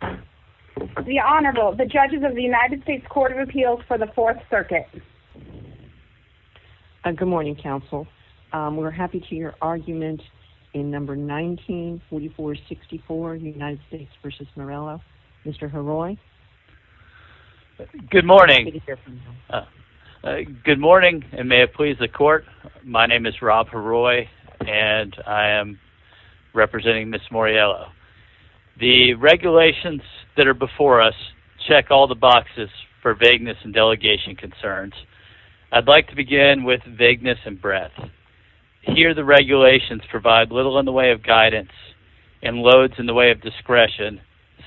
The Honorable, the judges of the United States Court of Appeals for the Fourth Circuit. Good morning, counsel. We're happy to hear your argument in No. 1944-64, United States v. Moriello. Mr. Heroy. Good morning. Good morning, and may it please the court. My name is Rob Heroy, and I am representing Ms. Moriello. The regulations that are before us check all the boxes for vagueness and delegation concerns. I'd like to begin with vagueness and breadth. Here the regulations provide little in the way of guidance and loads in the way of discretion,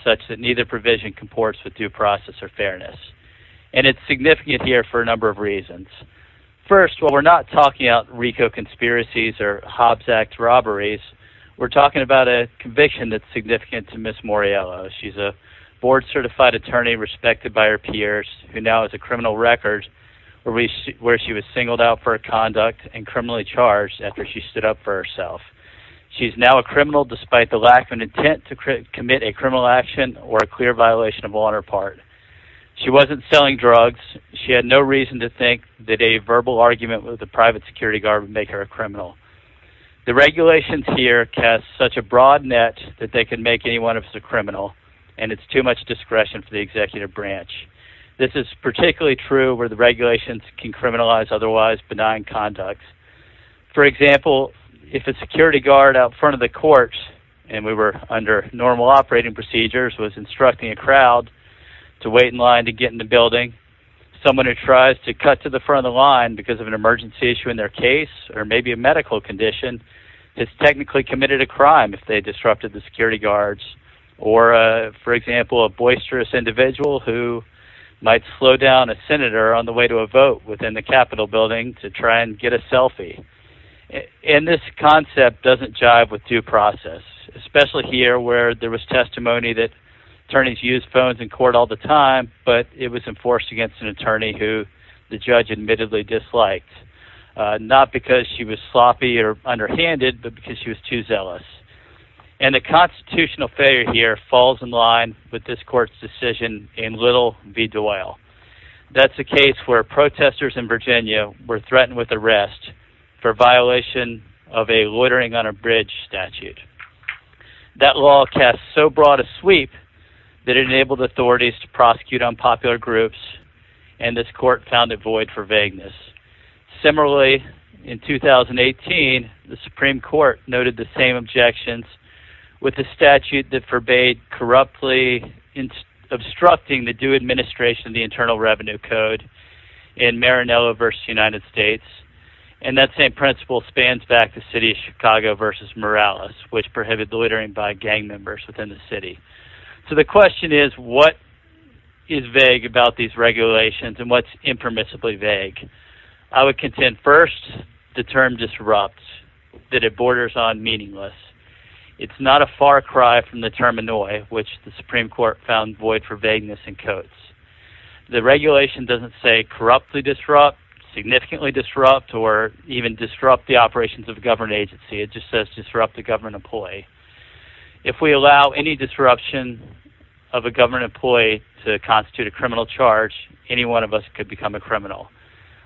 such that neither provision comports with due process or fairness. And it's significant here for a number of reasons. First, while we're not talking about RICO conspiracies or Hobbs Act robberies, we're talking about a conviction that's significant to Ms. Moriello. She's a board-certified attorney respected by her peers, who now has a criminal record where she was singled out for her conduct and criminally charged after she stood up for herself. She's now a criminal despite the lack of an intent to commit a criminal action or a clear violation of honor part. She wasn't selling drugs. She had no reason to think that a verbal argument with a private security guard would make her a criminal. The regulations here cast such a broad net that they could make anyone of us a criminal, and it's too much discretion for the executive branch. This is particularly true where the regulations can criminalize otherwise benign conduct. For example, if a security guard out front of the courts, and we were under normal operating procedures, was instructing a crowd to wait in line to get in the building, someone who tries to cut to the front of the line because of an emergency issue in their case or maybe a medical condition has technically committed a crime if they disrupted the security guards. Or, for example, a boisterous individual who might slow down a senator on the way to a vote within the Capitol building to try and get a selfie. And this concept doesn't jive with due process. Especially here where there was testimony that attorneys used phones in court all the time, but it was enforced against an attorney who the judge admittedly disliked. Not because she was sloppy or underhanded, but because she was too zealous. And the constitutional failure here falls in line with this court's decision in Little v. Doyle. That's a case where protesters in Virginia were threatened with arrest for violation of a loitering on a bridge statute. That law cast so broad a sweep that it enabled authorities to prosecute unpopular groups, and this court found a void for vagueness. Similarly, in 2018, the Supreme Court noted the same objections with the statute that forbade corruptly obstructing the due administration of the Internal Revenue Code in Maranello v. United States. And that same principle spans back to the city of Chicago v. Morales, which prohibited loitering by gang members within the city. So the question is, what is vague about these regulations, and what's impermissibly vague? I would contend, first, the term disrupts, that it borders on meaningless. It's not a far cry from the term annoy, which the Supreme Court found void for vagueness in Coates. The regulation doesn't say corruptly disrupt, significantly disrupt, or even disrupt the operations of a government agency. It just says disrupt a government employee. If we allow any disruption of a government employee to constitute a criminal charge, any one of us could become a criminal.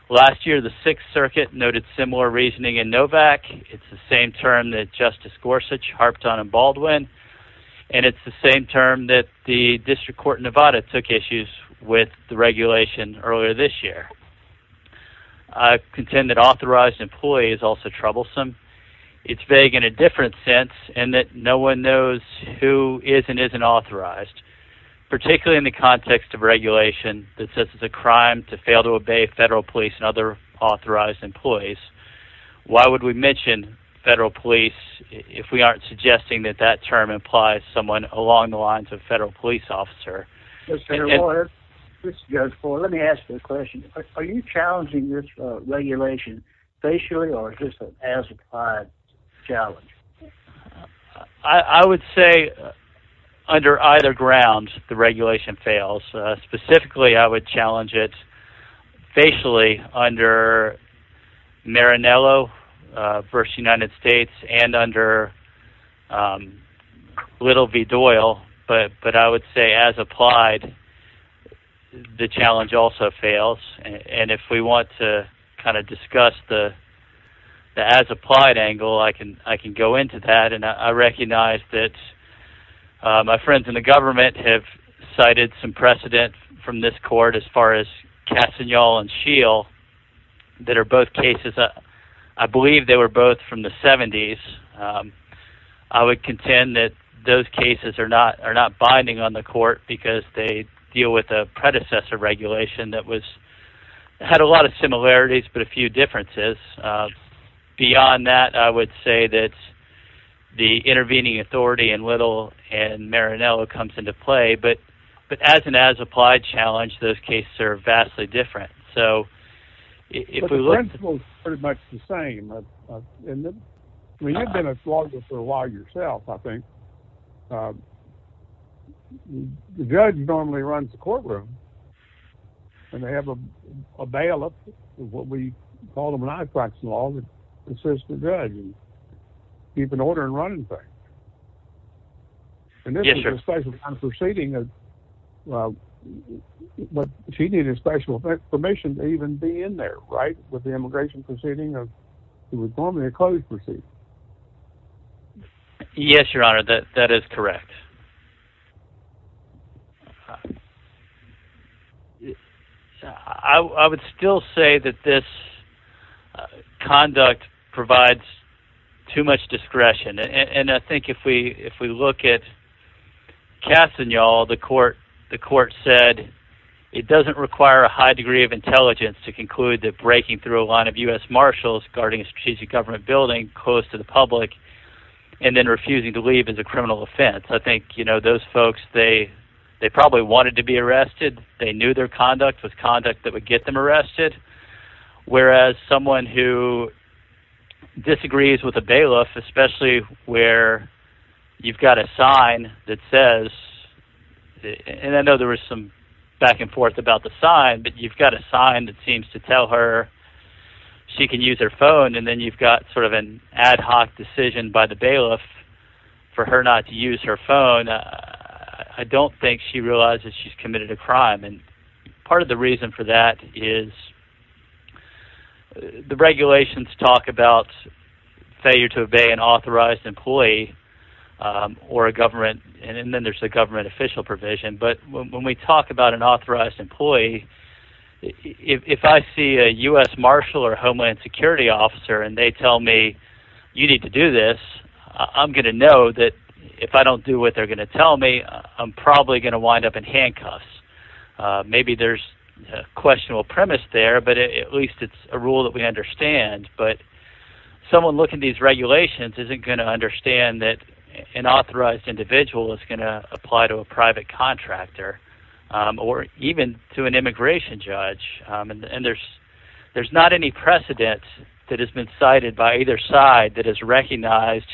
Last year, the Sixth Circuit noted similar reasoning in Novak. It's the same term that Justice Gorsuch harped on in Baldwin, and it's the same term that the District Court in Nevada took issues with the regulation earlier this year. I contend that authorized employee is also troublesome. It's vague in a different sense, in that no one knows who is and isn't authorized, particularly in the context of regulation that says it's a crime to fail to obey federal police and other authorized employees. Why would we mention federal police if we aren't suggesting that that term implies someone along the lines of federal police officer? Senator Moyer, let me ask you a question. Are you challenging this regulation facially, or is this an as-implied challenge? I would say under either grounds the regulation fails. Specifically, I would challenge it facially under Marinello v. United States and under Little v. Doyle, but I would say as-applied the challenge also fails. If we want to discuss the as-applied angle, I can go into that. I recognize that my friends in the government have cited some precedent from this court, as far as Castagnol and Scheel, that are both cases. I believe they were both from the 70s. I would contend that those cases are not binding on the court, because they deal with a predecessor regulation that had a lot of similarities but a few differences. Beyond that, I would say that the intervening authority in Little and Marinello comes into play, but as an as-applied challenge, those cases are vastly different. The principle is pretty much the same. You've been a flogger for a while yourself, I think. The judge normally runs the courtroom, and they have a bailiff, what we call them in IFAC's law, that assists the judge in keeping order and running things. And this is a special kind of proceeding, but she needed special permission to even be in there, right? With the immigration proceeding, it was normally a closed proceeding. Yes, Your Honor, that is correct. I would still say that this conduct provides too much discretion, and I think if we look at Castagnol, the court said it doesn't require a high degree of intelligence to conclude that breaking through a line of U.S. Marshals guarding a strategic government building close to the public and then refusing to leave is a criminal offense. I think those folks, they probably wanted to be arrested. They knew their conduct was conduct that would get them arrested, whereas someone who disagrees with a bailiff, especially where you've got a sign that says, and I know there was some back and forth about the sign, but you've got a sign that seems to tell her she can use her phone, and then you've got sort of an ad hoc decision by the bailiff for her not to use her phone. I don't think she realizes she's committed a crime. Part of the reason for that is the regulations talk about failure to obey an authorized employee or a government, and then there's the government official provision. But when we talk about an authorized employee, if I see a U.S. Marshal or Homeland Security officer and they tell me you need to do this, I'm going to know that if I don't do what they're going to tell me, I'm probably going to wind up in handcuffs. Maybe there's a questionable premise there, but at least it's a rule that we understand. But someone looking at these regulations isn't going to understand that an authorized individual is going to apply to a private contractor or even to an immigration judge, and there's not any precedent that has been cited by either side that has recognized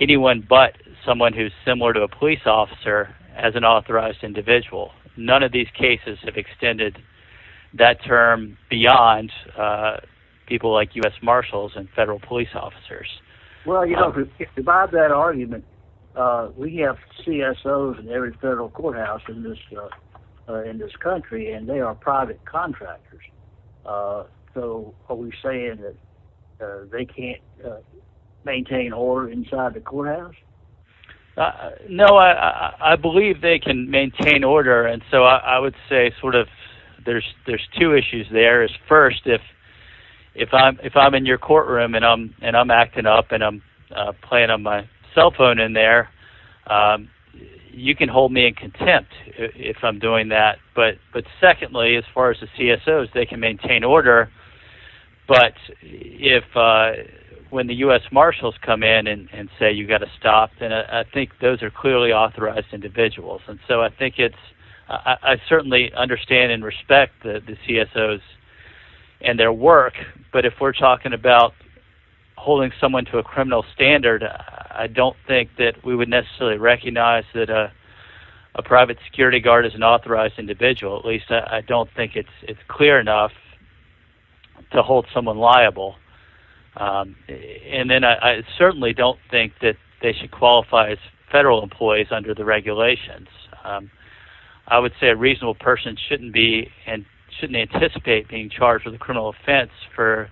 anyone but someone who's similar to a police officer as an authorized individual. None of these cases have extended that term beyond people like U.S. Marshals and federal police officers. Well, you know, to buy that argument, we have CSOs in every federal courthouse in this country, and they are private contractors. So are we saying that they can't maintain order inside the courthouse? No, I believe they can maintain order, and so I would say sort of there's two issues there. First, if I'm in your courtroom and I'm acting up and I'm playing on my cell phone in there, you can hold me in contempt if I'm doing that. But secondly, as far as the CSOs, they can maintain order, but when the U.S. Marshals come in and say you've got to stop, then I think those are clearly authorized individuals. And so I think it's – I certainly understand and respect the CSOs and their work, but if we're talking about holding someone to a criminal standard, I don't think that we would necessarily recognize that a private security guard is an authorized individual. At least I don't think it's clear enough to hold someone liable. And then I certainly don't think that they should qualify as federal employees under the regulations. I would say a reasonable person shouldn't be and shouldn't anticipate being charged with a criminal offense for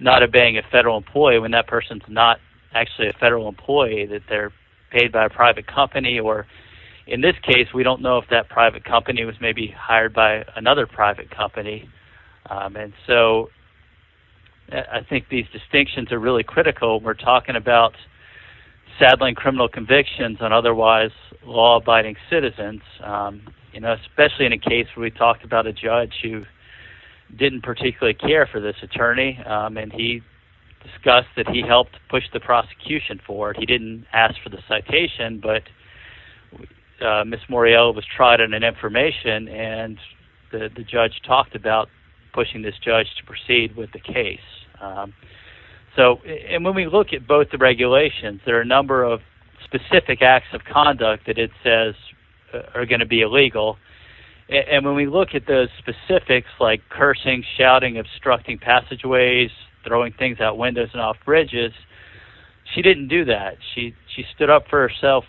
not obeying a federal employee when that person's not actually a federal employee, that they're paid by a private company. Or in this case, we don't know if that private company was maybe hired by another private company. And so I think these distinctions are really critical. We're talking about saddling criminal convictions on otherwise law-abiding citizens, especially in a case where we talked about a judge who didn't particularly care for this attorney, and he discussed that he helped push the prosecution forward. He didn't ask for the citation, but Ms. Moriel was tried on an information, and the judge talked about pushing this judge to proceed with the case. And when we look at both the regulations, there are a number of specific acts of conduct that it says are going to be illegal. And when we look at those specifics, like cursing, shouting, obstructing passageways, throwing things out windows and off bridges, she didn't do that. She stood up for herself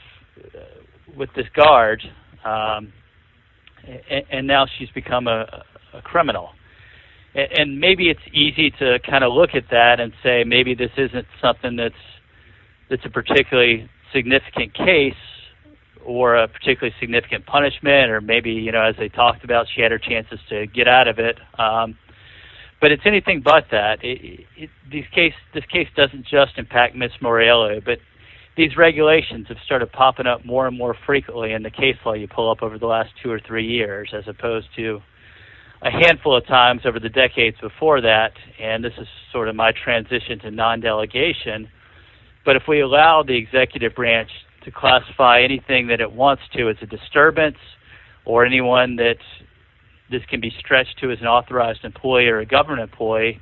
with this guard, and now she's become a criminal. And maybe it's easy to kind of look at that and say maybe this isn't something that's a particularly significant case or a particularly significant punishment, or maybe as they talked about, she had her chances to get out of it. But it's anything but that. This case doesn't just impact Ms. Moriel, but these regulations have started popping up more and more frequently in the case law you pull up over the last two or three years, as opposed to a handful of times over the decades before that, and this is sort of my transition to non-delegation. But if we allow the executive branch to classify anything that it wants to as a disturbance or anyone that this can be stretched to as an authorized employee or a government employee,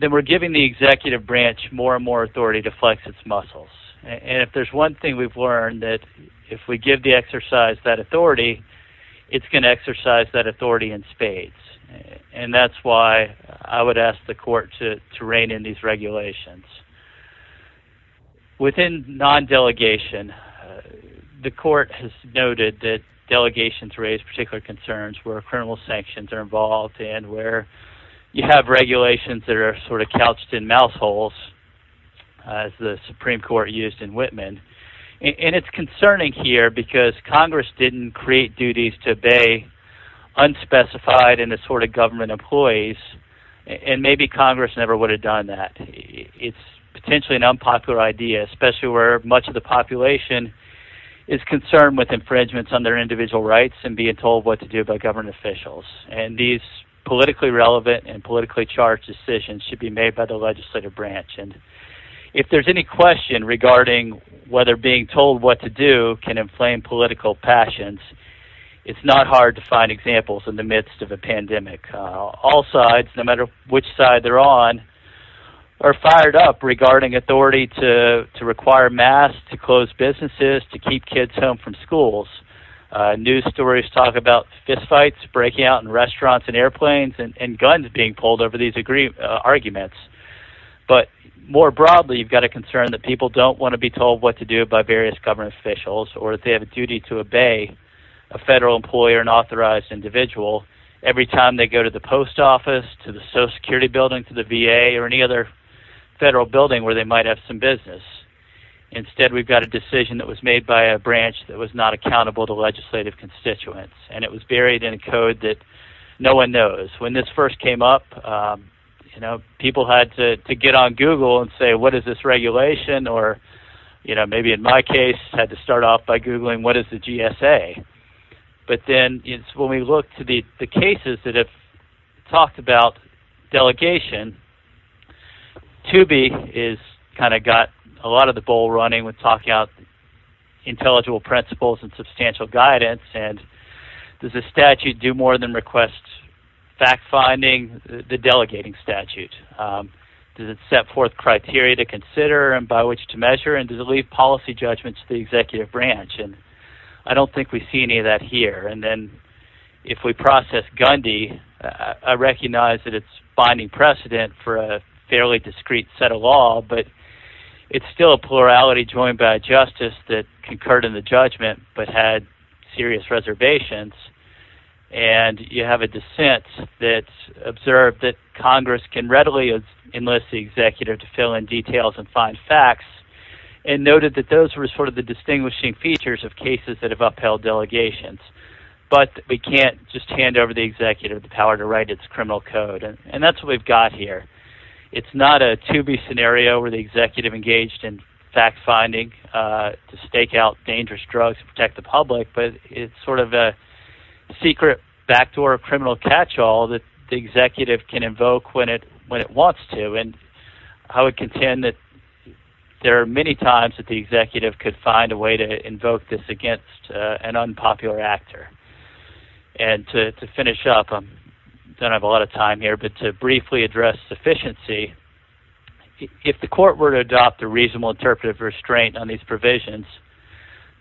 then we're giving the executive branch more and more authority to flex its muscles. And if there's one thing we've learned, that if we give the exercise that authority, it's going to exercise that authority in spades. And that's why I would ask the court to rein in these regulations. Within non-delegation, the court has noted that delegations raise particular concerns where criminal sanctions are involved and where you have regulations that are sort of couched in mouth holes, as the Supreme Court used in Whitman. And it's concerning here because Congress didn't create duties to obey unspecified and assorted government employees, and maybe Congress never would have done that. But it's potentially an unpopular idea, especially where much of the population is concerned with infringements on their individual rights and being told what to do by government officials. And these politically relevant and politically charged decisions should be made by the legislative branch. And if there's any question regarding whether being told what to do can inflame political passions, it's not hard to find examples in the midst of a pandemic. All sides, no matter which side they're on, are fired up regarding authority to require masks, to close businesses, to keep kids home from schools. News stories talk about fistfights, breaking out in restaurants and airplanes, and guns being pulled over these arguments. But more broadly, you've got a concern that people don't want to be told what to do by various government officials or that they have a duty to obey a federal employer and authorized individual every time they go to the post office, to the Social Security building, to the VA, or any other federal building where they might have some business. Instead, we've got a decision that was made by a branch that was not accountable to legislative constituents, and it was buried in a code that no one knows. When this first came up, people had to get on Google and say, what is this regulation, or maybe in my case, had to start off by Googling what is the GSA. But then when we look to the cases that have talked about delegation, 2B has kind of got a lot of the bowl running when talking about intelligible principles and substantial guidance. Does the statute do more than request fact-finding, the delegating statute? Does it set forth criteria to consider and by which to measure, and does it leave policy judgments to the executive branch? I don't think we see any of that here. And then if we process Gundy, I recognize that it's finding precedent for a fairly discreet set of law, but it's still a plurality joined by a justice that concurred in the judgment but had serious reservations. And you have a dissent that's observed that Congress can readily enlist the executive to fill in details and find facts, and noted that those were sort of the distinguishing features of cases that have upheld delegations. But we can't just hand over the executive the power to write its criminal code, and that's what we've got here. It's not a 2B scenario where the executive engaged in fact-finding to stake out dangerous drugs and protect the public, but it's sort of a secret backdoor criminal catch-all that the executive can invoke when it wants to. And I would contend that there are many times that the executive could find a way to invoke this against an unpopular actor. And to finish up, I don't have a lot of time here, but to briefly address sufficiency, if the court were to adopt a reasonable interpretive restraint on these provisions,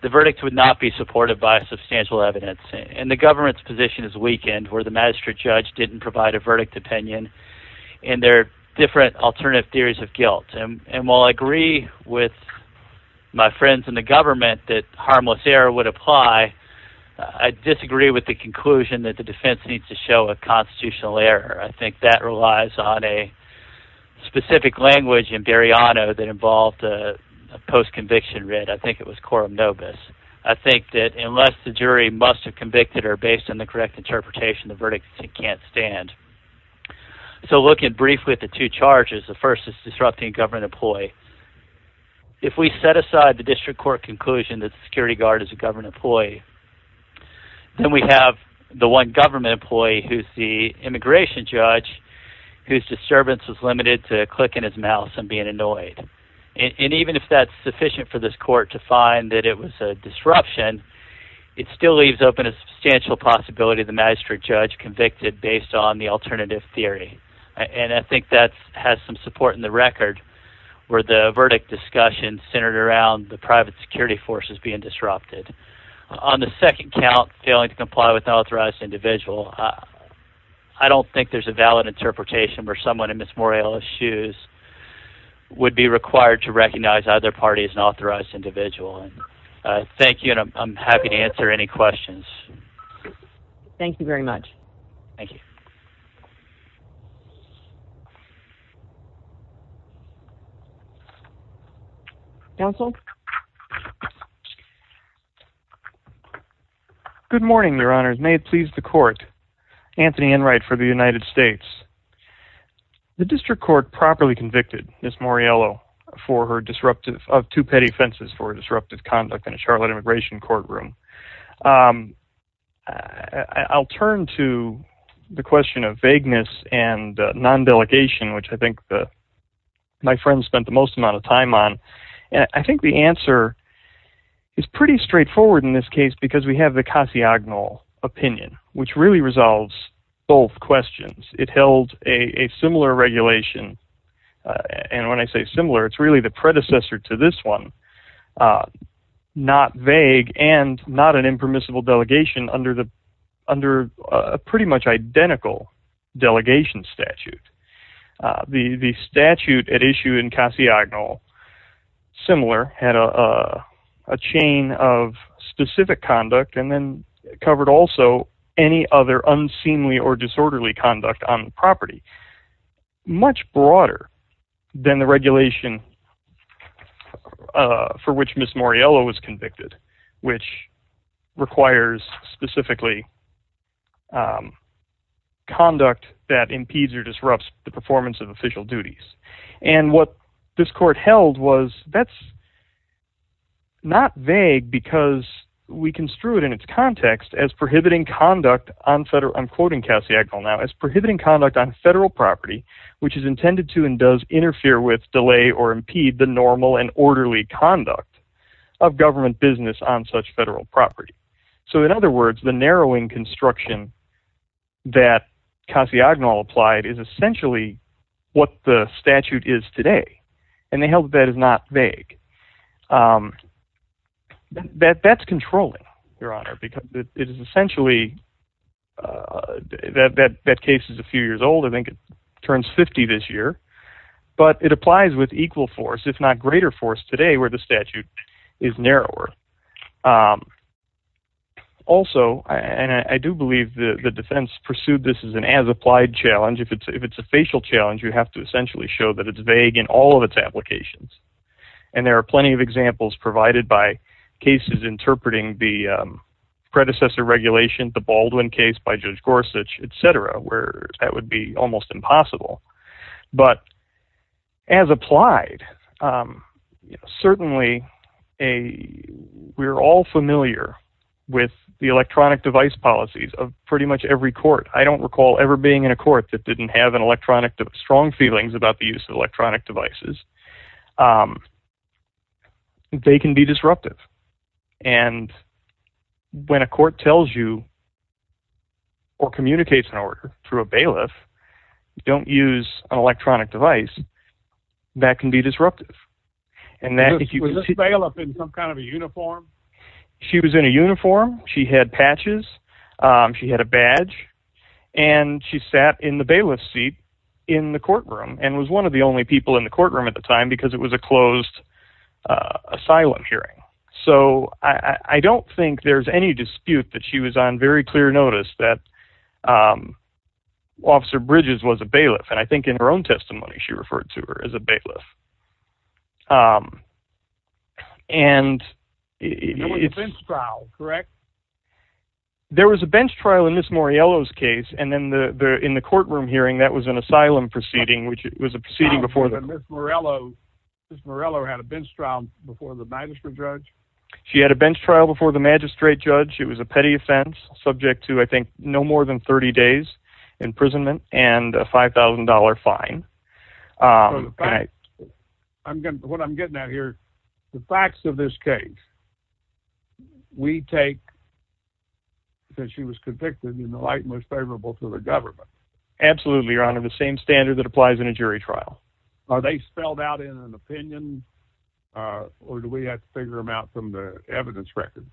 the verdict would not be supported by substantial evidence. And the government's position is weakened where the magistrate judge didn't provide a verdict opinion, and there are different alternative theories of guilt. And while I agree with my friends in the government that harmless error would apply, I disagree with the conclusion that the defense needs to show a constitutional error. I think that relies on a specific language in Beriano that involved a post-conviction writ. I think it was coram nobis. I think that unless the jury must have convicted her based on the correct interpretation, the verdict can't stand. So looking briefly at the two charges, the first is disrupting a government employee. If we set aside the district court conclusion that the security guard is a government employee, then we have the one government employee who's the immigration judge whose disturbance is limited to a click in his mouse and being annoyed. And even if that's sufficient for this court to find that it was a disruption, it still leaves open a substantial possibility of the magistrate judge convicted based on the alternative theory. And I think that has some support in the record where the verdict discussion centered around the private security forces being disrupted. On the second count, failing to comply with an authorized individual, I don't think there's a valid interpretation where someone in Ms. Morello's shoes would be required to recognize either party as an authorized individual. Thank you, and I'm happy to answer any questions. Thank you very much. Thank you. Counsel? Good morning, Your Honors. May it please the court. Anthony Enright for the United States. The district court properly convicted Ms. Morello of two petty offenses for disruptive conduct in a Charlotte immigration courtroom. I'll turn to the question of vagueness and non-delegation, which I think my friends spent the most amount of time on. And I think the answer is pretty straightforward in this case because we have the Casiagnol opinion, which really resolves both questions. It held a similar regulation. And when I say similar, it's really the predecessor to this one, not vague and not an impermissible delegation under a pretty much identical delegation statute. The statute at issue in Casiagnol, similar, had a chain of specific conduct and then covered also any other unseemly or disorderly conduct on the property. Much broader than the regulation for which Ms. Morello was convicted, which requires specifically conduct that impedes or disrupts the performance of official duties. And what this court held was that's not vague because we construe it in its context as prohibiting conduct on federal, I'm quoting Casiagnol now, as prohibiting conduct on federal property, which is intended to and does interfere with, delay, or impede the normal and orderly conduct of government business on such federal property. So in other words, the narrowing construction that Casiagnol applied is essentially what the statute is today. And they held that is not vague. That's controlling, Your Honor, because it is essentially, that case is a few years old. I think it turns 50 this year, but it applies with equal force, if not greater force, today where the statute is narrower. Also, and I do believe the defense pursued this as an as-applied challenge. If it's a facial challenge, you have to essentially show that it's vague in all of its applications. And there are plenty of examples provided by cases interpreting the predecessor regulation, the Baldwin case by Judge Gorsuch, et cetera, where that would be almost impossible. But as applied, certainly we're all familiar with the electronic device policies of pretty much every court. I don't recall ever being in a court that didn't have an electronic, strong feelings about the use of electronic devices. They can be disruptive. And when a court tells you or communicates an order through a bailiff, don't use an electronic device, that can be disruptive. Was this bailiff in some kind of a uniform? She was in a uniform. She had patches. She had a badge. And she sat in the bailiff's seat in the courtroom and was one of the only people in the courtroom at the time because it was a closed asylum hearing. So I don't think there's any dispute that she was on very clear notice that Officer Bridges was a bailiff. And I think in her own testimony, she referred to her as a bailiff. There was a bench trial, correct? There was a bench trial in Miss Moriello's case. And then in the courtroom hearing, that was an asylum proceeding, which was a proceeding before the court. And Miss Moriello had a bench trial before the magistrate judge? She had a bench trial before the magistrate judge. It was a petty offense subject to, I think, no more than 30 days imprisonment and a $5,000 fine. What I'm getting at here, the facts of this case, we take that she was convicted in the light most favorable to the government. Absolutely, Your Honor. The same standard that applies in a jury trial. Are they spelled out in an opinion? Or do we have to figure them out from the evidence record?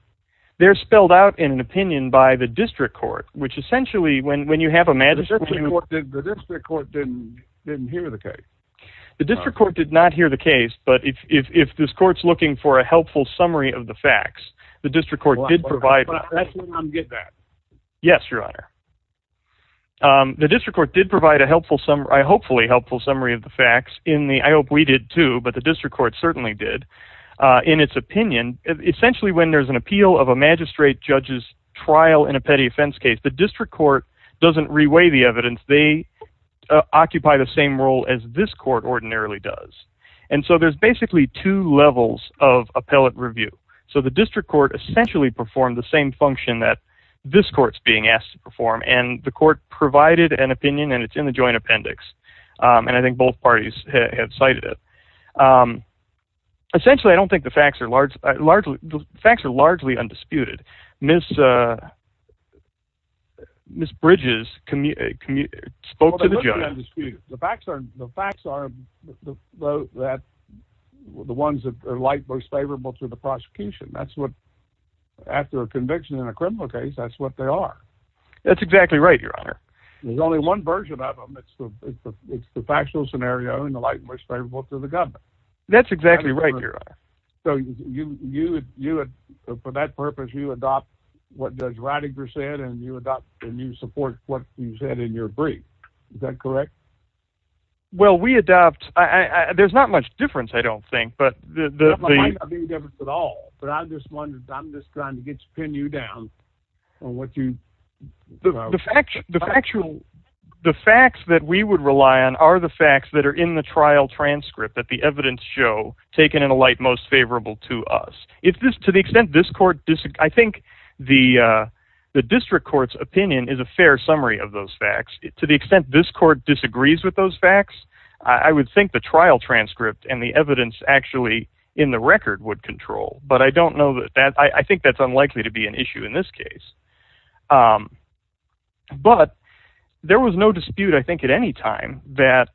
They're spelled out in an opinion by the district court, which essentially, when you have a magistrate... The district court didn't hear the case. The district court did not hear the case. But if this court's looking for a helpful summary of the facts, the district court did provide... That's where I'm getting at. Yes, Your Honor. The district court did provide a helpful... A hopefully helpful summary of the facts. I hope we did too, but the district court certainly did. In its opinion, essentially when there's an appeal of a magistrate judge's trial in a petty offense case, the district court doesn't reweigh the evidence. They occupy the same role as this court ordinarily does. And so there's basically two levels of appellate review. So the district court essentially performed the same function that this court's being asked to perform, and the court provided an opinion, and it's in the joint appendix. And I think both parties have cited it. Essentially, I don't think the facts are largely... The facts are largely undisputed. Ms. Bridges spoke to the joint. Well, they're largely undisputed. The facts are that the ones that are light were favorable to the prosecution. After a conviction in a criminal case, that's what they are. That's exactly right, Your Honor. There's only one version of them. It's the factual scenario in the light most favorable to the government. That's exactly right, Your Honor. So for that purpose, you adopt what Judge Rattiger said, and you adopt and you support what he said in your brief. Is that correct? Well, we adopt... There's not much difference, I don't think. There might not be a difference at all, but I'm just trying to pin you down on what you... The facts that we would rely on are the facts that are in the trial transcript that the evidence show taken in a light most favorable to us. To the extent this court... I think the district court's opinion is a fair summary of those facts. To the extent this court disagrees with those facts, I would think the trial transcript and the evidence actually in the record would control. But I don't know that... I think that's unlikely to be an issue in this case. But there was no dispute, I think, at any time that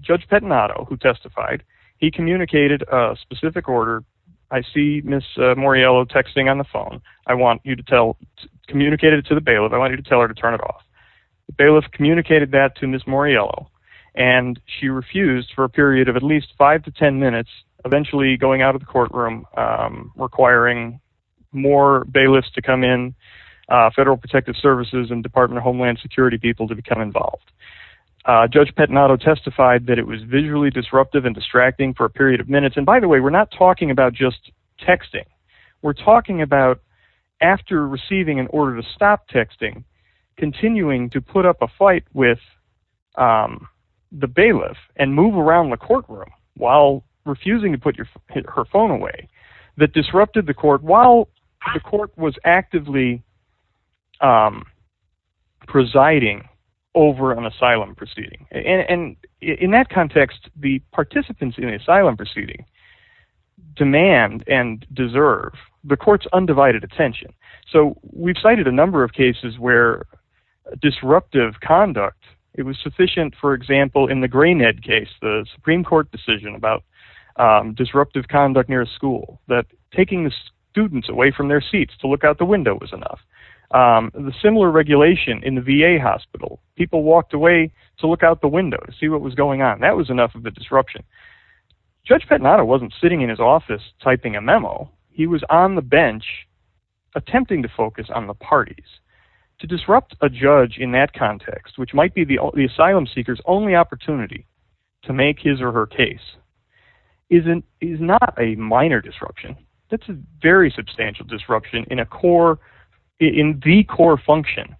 Judge Petanato, who testified, he communicated a specific order. I see Ms. Moriello texting on the phone. I want you to tell... Communicate it to the bailiff. I want you to tell her to turn it off. The bailiff communicated that to Ms. Moriello, and she refused for a period of at least 5 to 10 minutes, eventually going out of the courtroom, requiring more bailiffs to come in, Federal Protective Services and Department of Homeland Security people to become involved. Judge Petanato testified that it was visually disruptive and distracting for a period of minutes. And by the way, we're not talking about just texting. We're talking about, after receiving an order to stop texting, continuing to put up a fight with the bailiff and move around the courtroom while refusing to put her phone away that disrupted the court while the court was actively presiding over an asylum proceeding. And in that context, the participants in the asylum proceeding demand and deserve the court's undivided attention. So we've cited a number of cases where disruptive conduct, it was sufficient, for example, in the Greenhead case, the Supreme Court decision about disruptive conduct near a school, that taking the students away from their seats to look out the window was enough. The similar regulation in the VA hospital, people walked away to look out the window to see what was going on. That was enough of a disruption. Judge Petanato wasn't sitting in his office typing a memo. He was on the bench attempting to focus on the parties. To disrupt a judge in that context, which might be the asylum seeker's only opportunity to make his or her case, is not a minor disruption. It's a very substantial disruption in the core function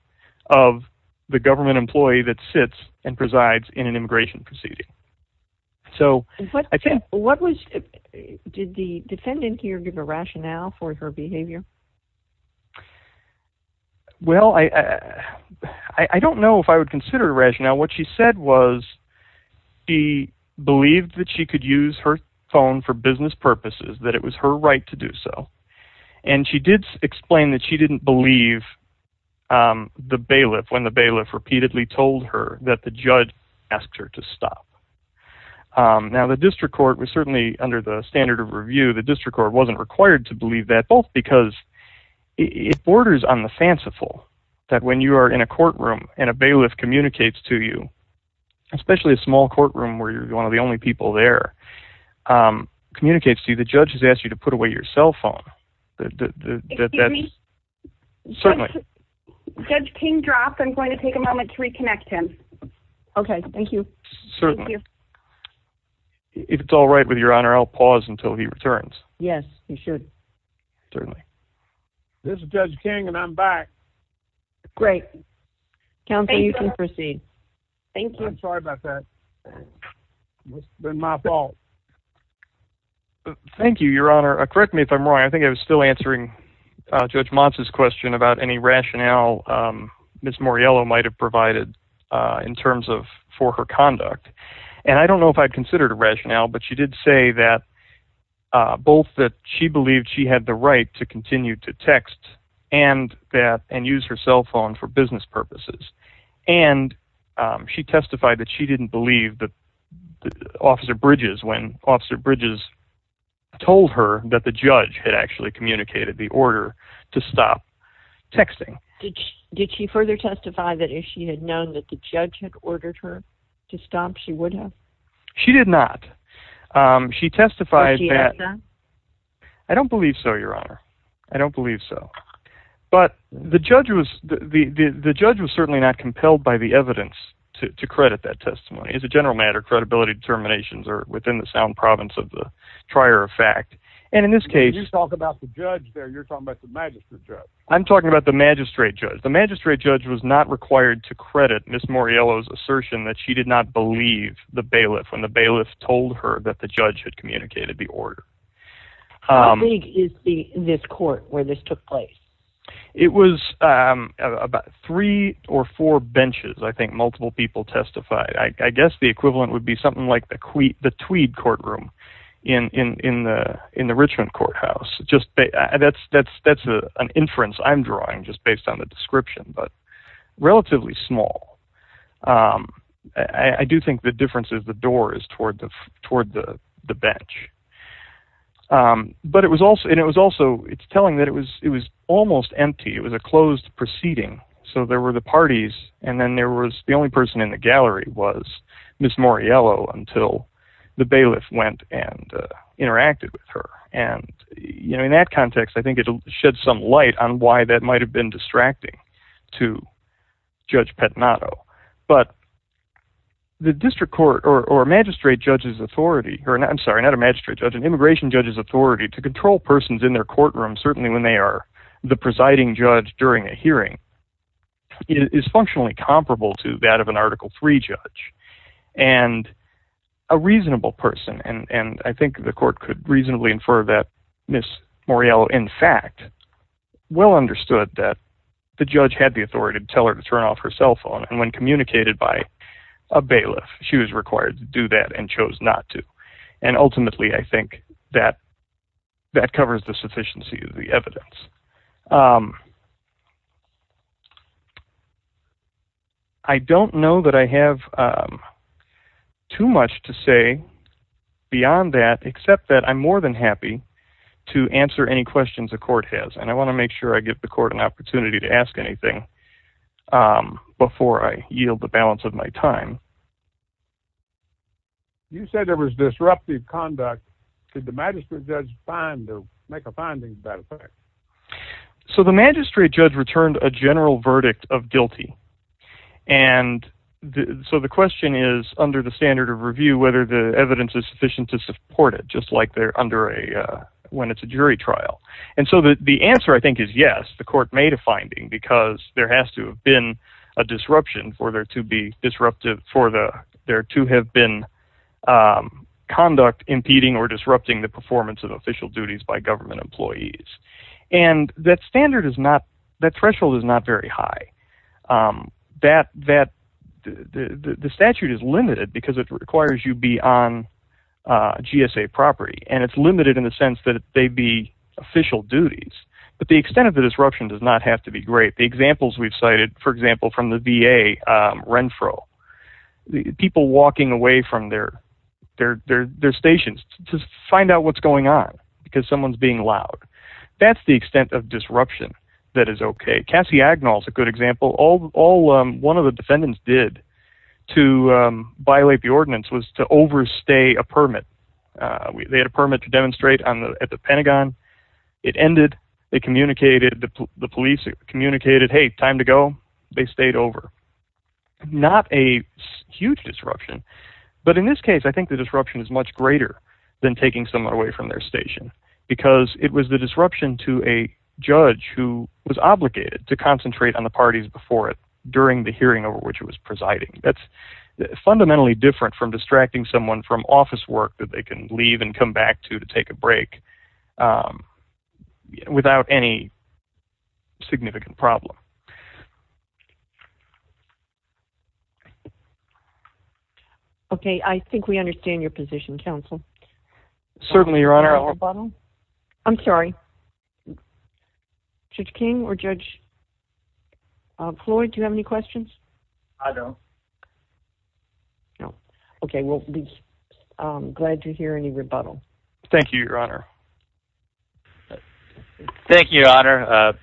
of the government employee that sits and presides in an immigration proceeding. So I think... What was... Did the defendant here give a rationale for her behavior? Well, I don't know if I would consider it a rationale. Now, what she said was she believed that she could use her phone for business purposes, that it was her right to do so. And she did explain that she didn't believe the bailiff when the bailiff repeatedly told her that the judge asked her to stop. Now, the district court was certainly, under the standard of review, the district court wasn't required to believe that, both because it borders on the fanciful, that when you are in a courtroom and a bailiff communicates to you, especially a small courtroom where you're one of the only people there, communicates to you the judge has asked you to put away your cell phone, that that's... Excuse me? Certainly. Judge King dropped. I'm going to take a moment to reconnect him. Okay, thank you. Certainly. If it's all right with Your Honor, I'll pause until he returns. Yes, you should. Certainly. This is Judge King and I'm back. Great. Counsel, you can proceed. Thank you. I'm sorry about that. It's been my fault. Thank you, Your Honor. Correct me if I'm wrong. I think I was still answering Judge Mons' question about any rationale Ms. Moriello might have provided in terms of for her conduct. And I don't know if I'd considered a rationale, but she did say that, both that she believed she had the right to continue to text and use her cell phone for business purposes. And she testified that she didn't believe that Officer Bridges, when Officer Bridges told her that the judge had actually communicated the order to stop texting. Did she further testify that if she had known that the judge had ordered her to stop, she would have? She did not. She testified that... But she had done? I don't believe so, Your Honor. I don't believe so. But the judge was... The judge was certainly not compelled by the evidence to credit that testimony. As a general matter, credibility determinations are within the sound province of the trier of fact. And in this case... You're talking about the judge there. You're talking about the magistrate judge. I'm talking about the magistrate judge. The magistrate judge was not required to credit Ms. Moriello's assertion that she did not believe the bailiff when the bailiff told her that the judge had communicated the order. How big is this court where this took place? It was about three or four benches, I think, multiple people testified. I guess the equivalent would be something like the Tweed courtroom in the Richmond courthouse. That's an inference I'm drawing just based on the description, but relatively small. I do think the difference is the door is toward the bench. But it was also... It's telling that it was almost empty. It was a closed proceeding. So there were the parties, and then there was... The only person in the gallery was Ms. Moriello until the bailiff went and interacted with her. And in that context, I think it sheds some light on why that might have been distracting to Judge Petnato. But the district court, or a magistrate judge's authority... I'm sorry, not a magistrate judge, an immigration judge's authority to control persons in their courtroom, certainly when they are the presiding judge during a hearing, is functionally comparable to that of an Article III judge. And a reasonable person... And I think the court could reasonably infer that Ms. Moriello, in fact, well understood that the judge had the authority to tell her to turn off her cell phone. And when communicated by a bailiff, she was required to do that and chose not to. And ultimately, I think, that covers the sufficiency of the evidence. I don't know that I have too much to say beyond that, except that I'm more than happy to answer any questions the court has. And I want to make sure I give the court an opportunity to ask anything before I yield the balance of my time. You said there was disruptive conduct. Did the magistrate judge find, or make a finding, as a matter of fact? So the magistrate judge returned a general verdict of guilty. And so the question is, under the standard of review, whether the evidence is sufficient to support it, just like they're under a... when it's a jury trial. And so the answer, I think, is yes. The court made a finding because there has to have been a disruption for there to be disruptive for there to have been conduct impeding or disrupting the performance of official duties by government employees. And that standard is not... that threshold is not very high. That... the statute is limited because it requires you be on GSA property. And it's limited in the sense that they be official duties. But the extent of the disruption does not have to be great. The examples we've cited, for example, from the VA, Renfro. People walking away from their stations to find out what's going on because someone's being loud. That's the extent of disruption that is okay. Cassie Agnell's a good example. All... one of the defendants did to violate the ordinance was to overstay a permit. They had a permit to demonstrate at the Pentagon. It ended. They communicated. The police communicated, said, hey, time to go. They stayed over. Not a huge disruption. But in this case, I think the disruption is much greater than taking someone away from their station because it was the disruption to a judge who was obligated to concentrate on the parties before it during the hearing over which it was presiding. That's fundamentally different from distracting someone from office work that they can leave and come back to to take a break without any significant problem. Okay, I think we understand your position, counsel. Certainly, Your Honor. No rebuttal? I'm sorry. Judge King or Judge Floyd, do you have any questions? I don't. No. Okay, well, I'm glad to hear any rebuttal. Thank you, Your Honor. Thank you, Your Honor.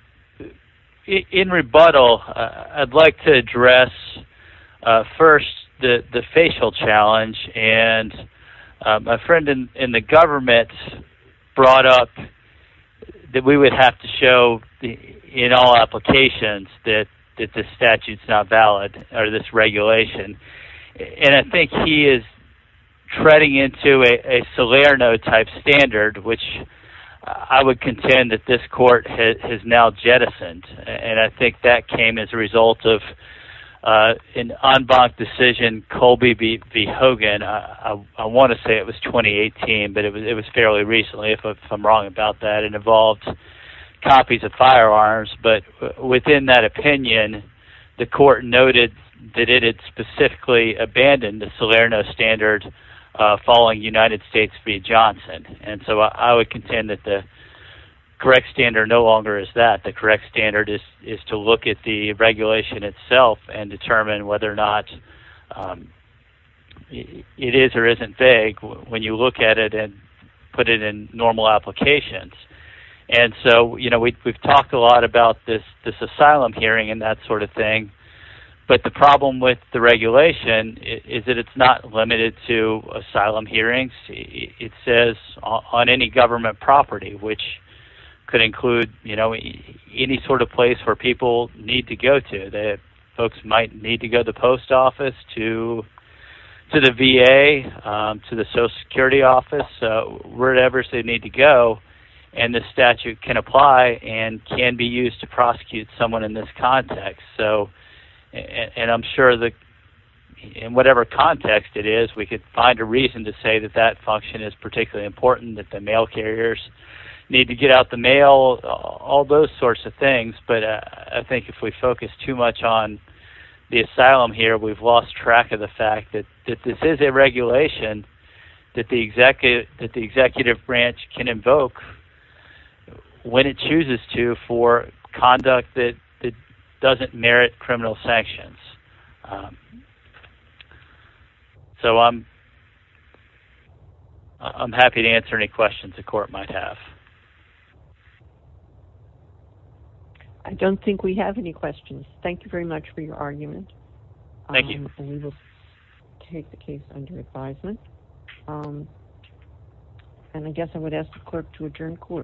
In rebuttal, I'd like to address first the facial challenge. And my friend in the government brought up that we would have to show in all applications that this statute's not valid or this regulation. And I think he is treading into a Salerno-type standard, which I would contend that this court has now jettisoned. And I think that came as a result of an en banc decision, Colby v. Hogan. I want to say it was 2018, but it was fairly recently, if I'm wrong about that. It involved copies of firearms. But within that opinion, the court noted that it had specifically abandoned the Salerno standard following United States v. Johnson. And so I would contend that the correct standard no longer is that. The correct standard is to look at the regulation itself and determine whether or not it is or isn't vague when you look at it and put it in normal applications. And so we've talked a lot about this asylum hearing and that sort of thing. But the problem with the regulation is that it's not limited to asylum hearings. It says on any government property, which could include any sort of place where people need to go to. Folks might need to go to the post office, to the VA, to the Social Security office, wherever they need to go. And the statute can apply and can be used to prosecute someone in this context. And I'm sure that in whatever context it is, we could find a reason to say that that function is particularly important, that the mail carriers need to get out the mail, all those sorts of things. But I think if we focus too much on the asylum here, we've lost track of the fact that this is a regulation that the executive branch can invoke when it chooses to for conduct that doesn't merit criminal sanctions. So I'm happy to answer any questions the court might have. I don't think we have any questions. Thank you very much for your argument. Thank you. And we will take the case under advisement. And I guess I would ask the clerk to adjourn court.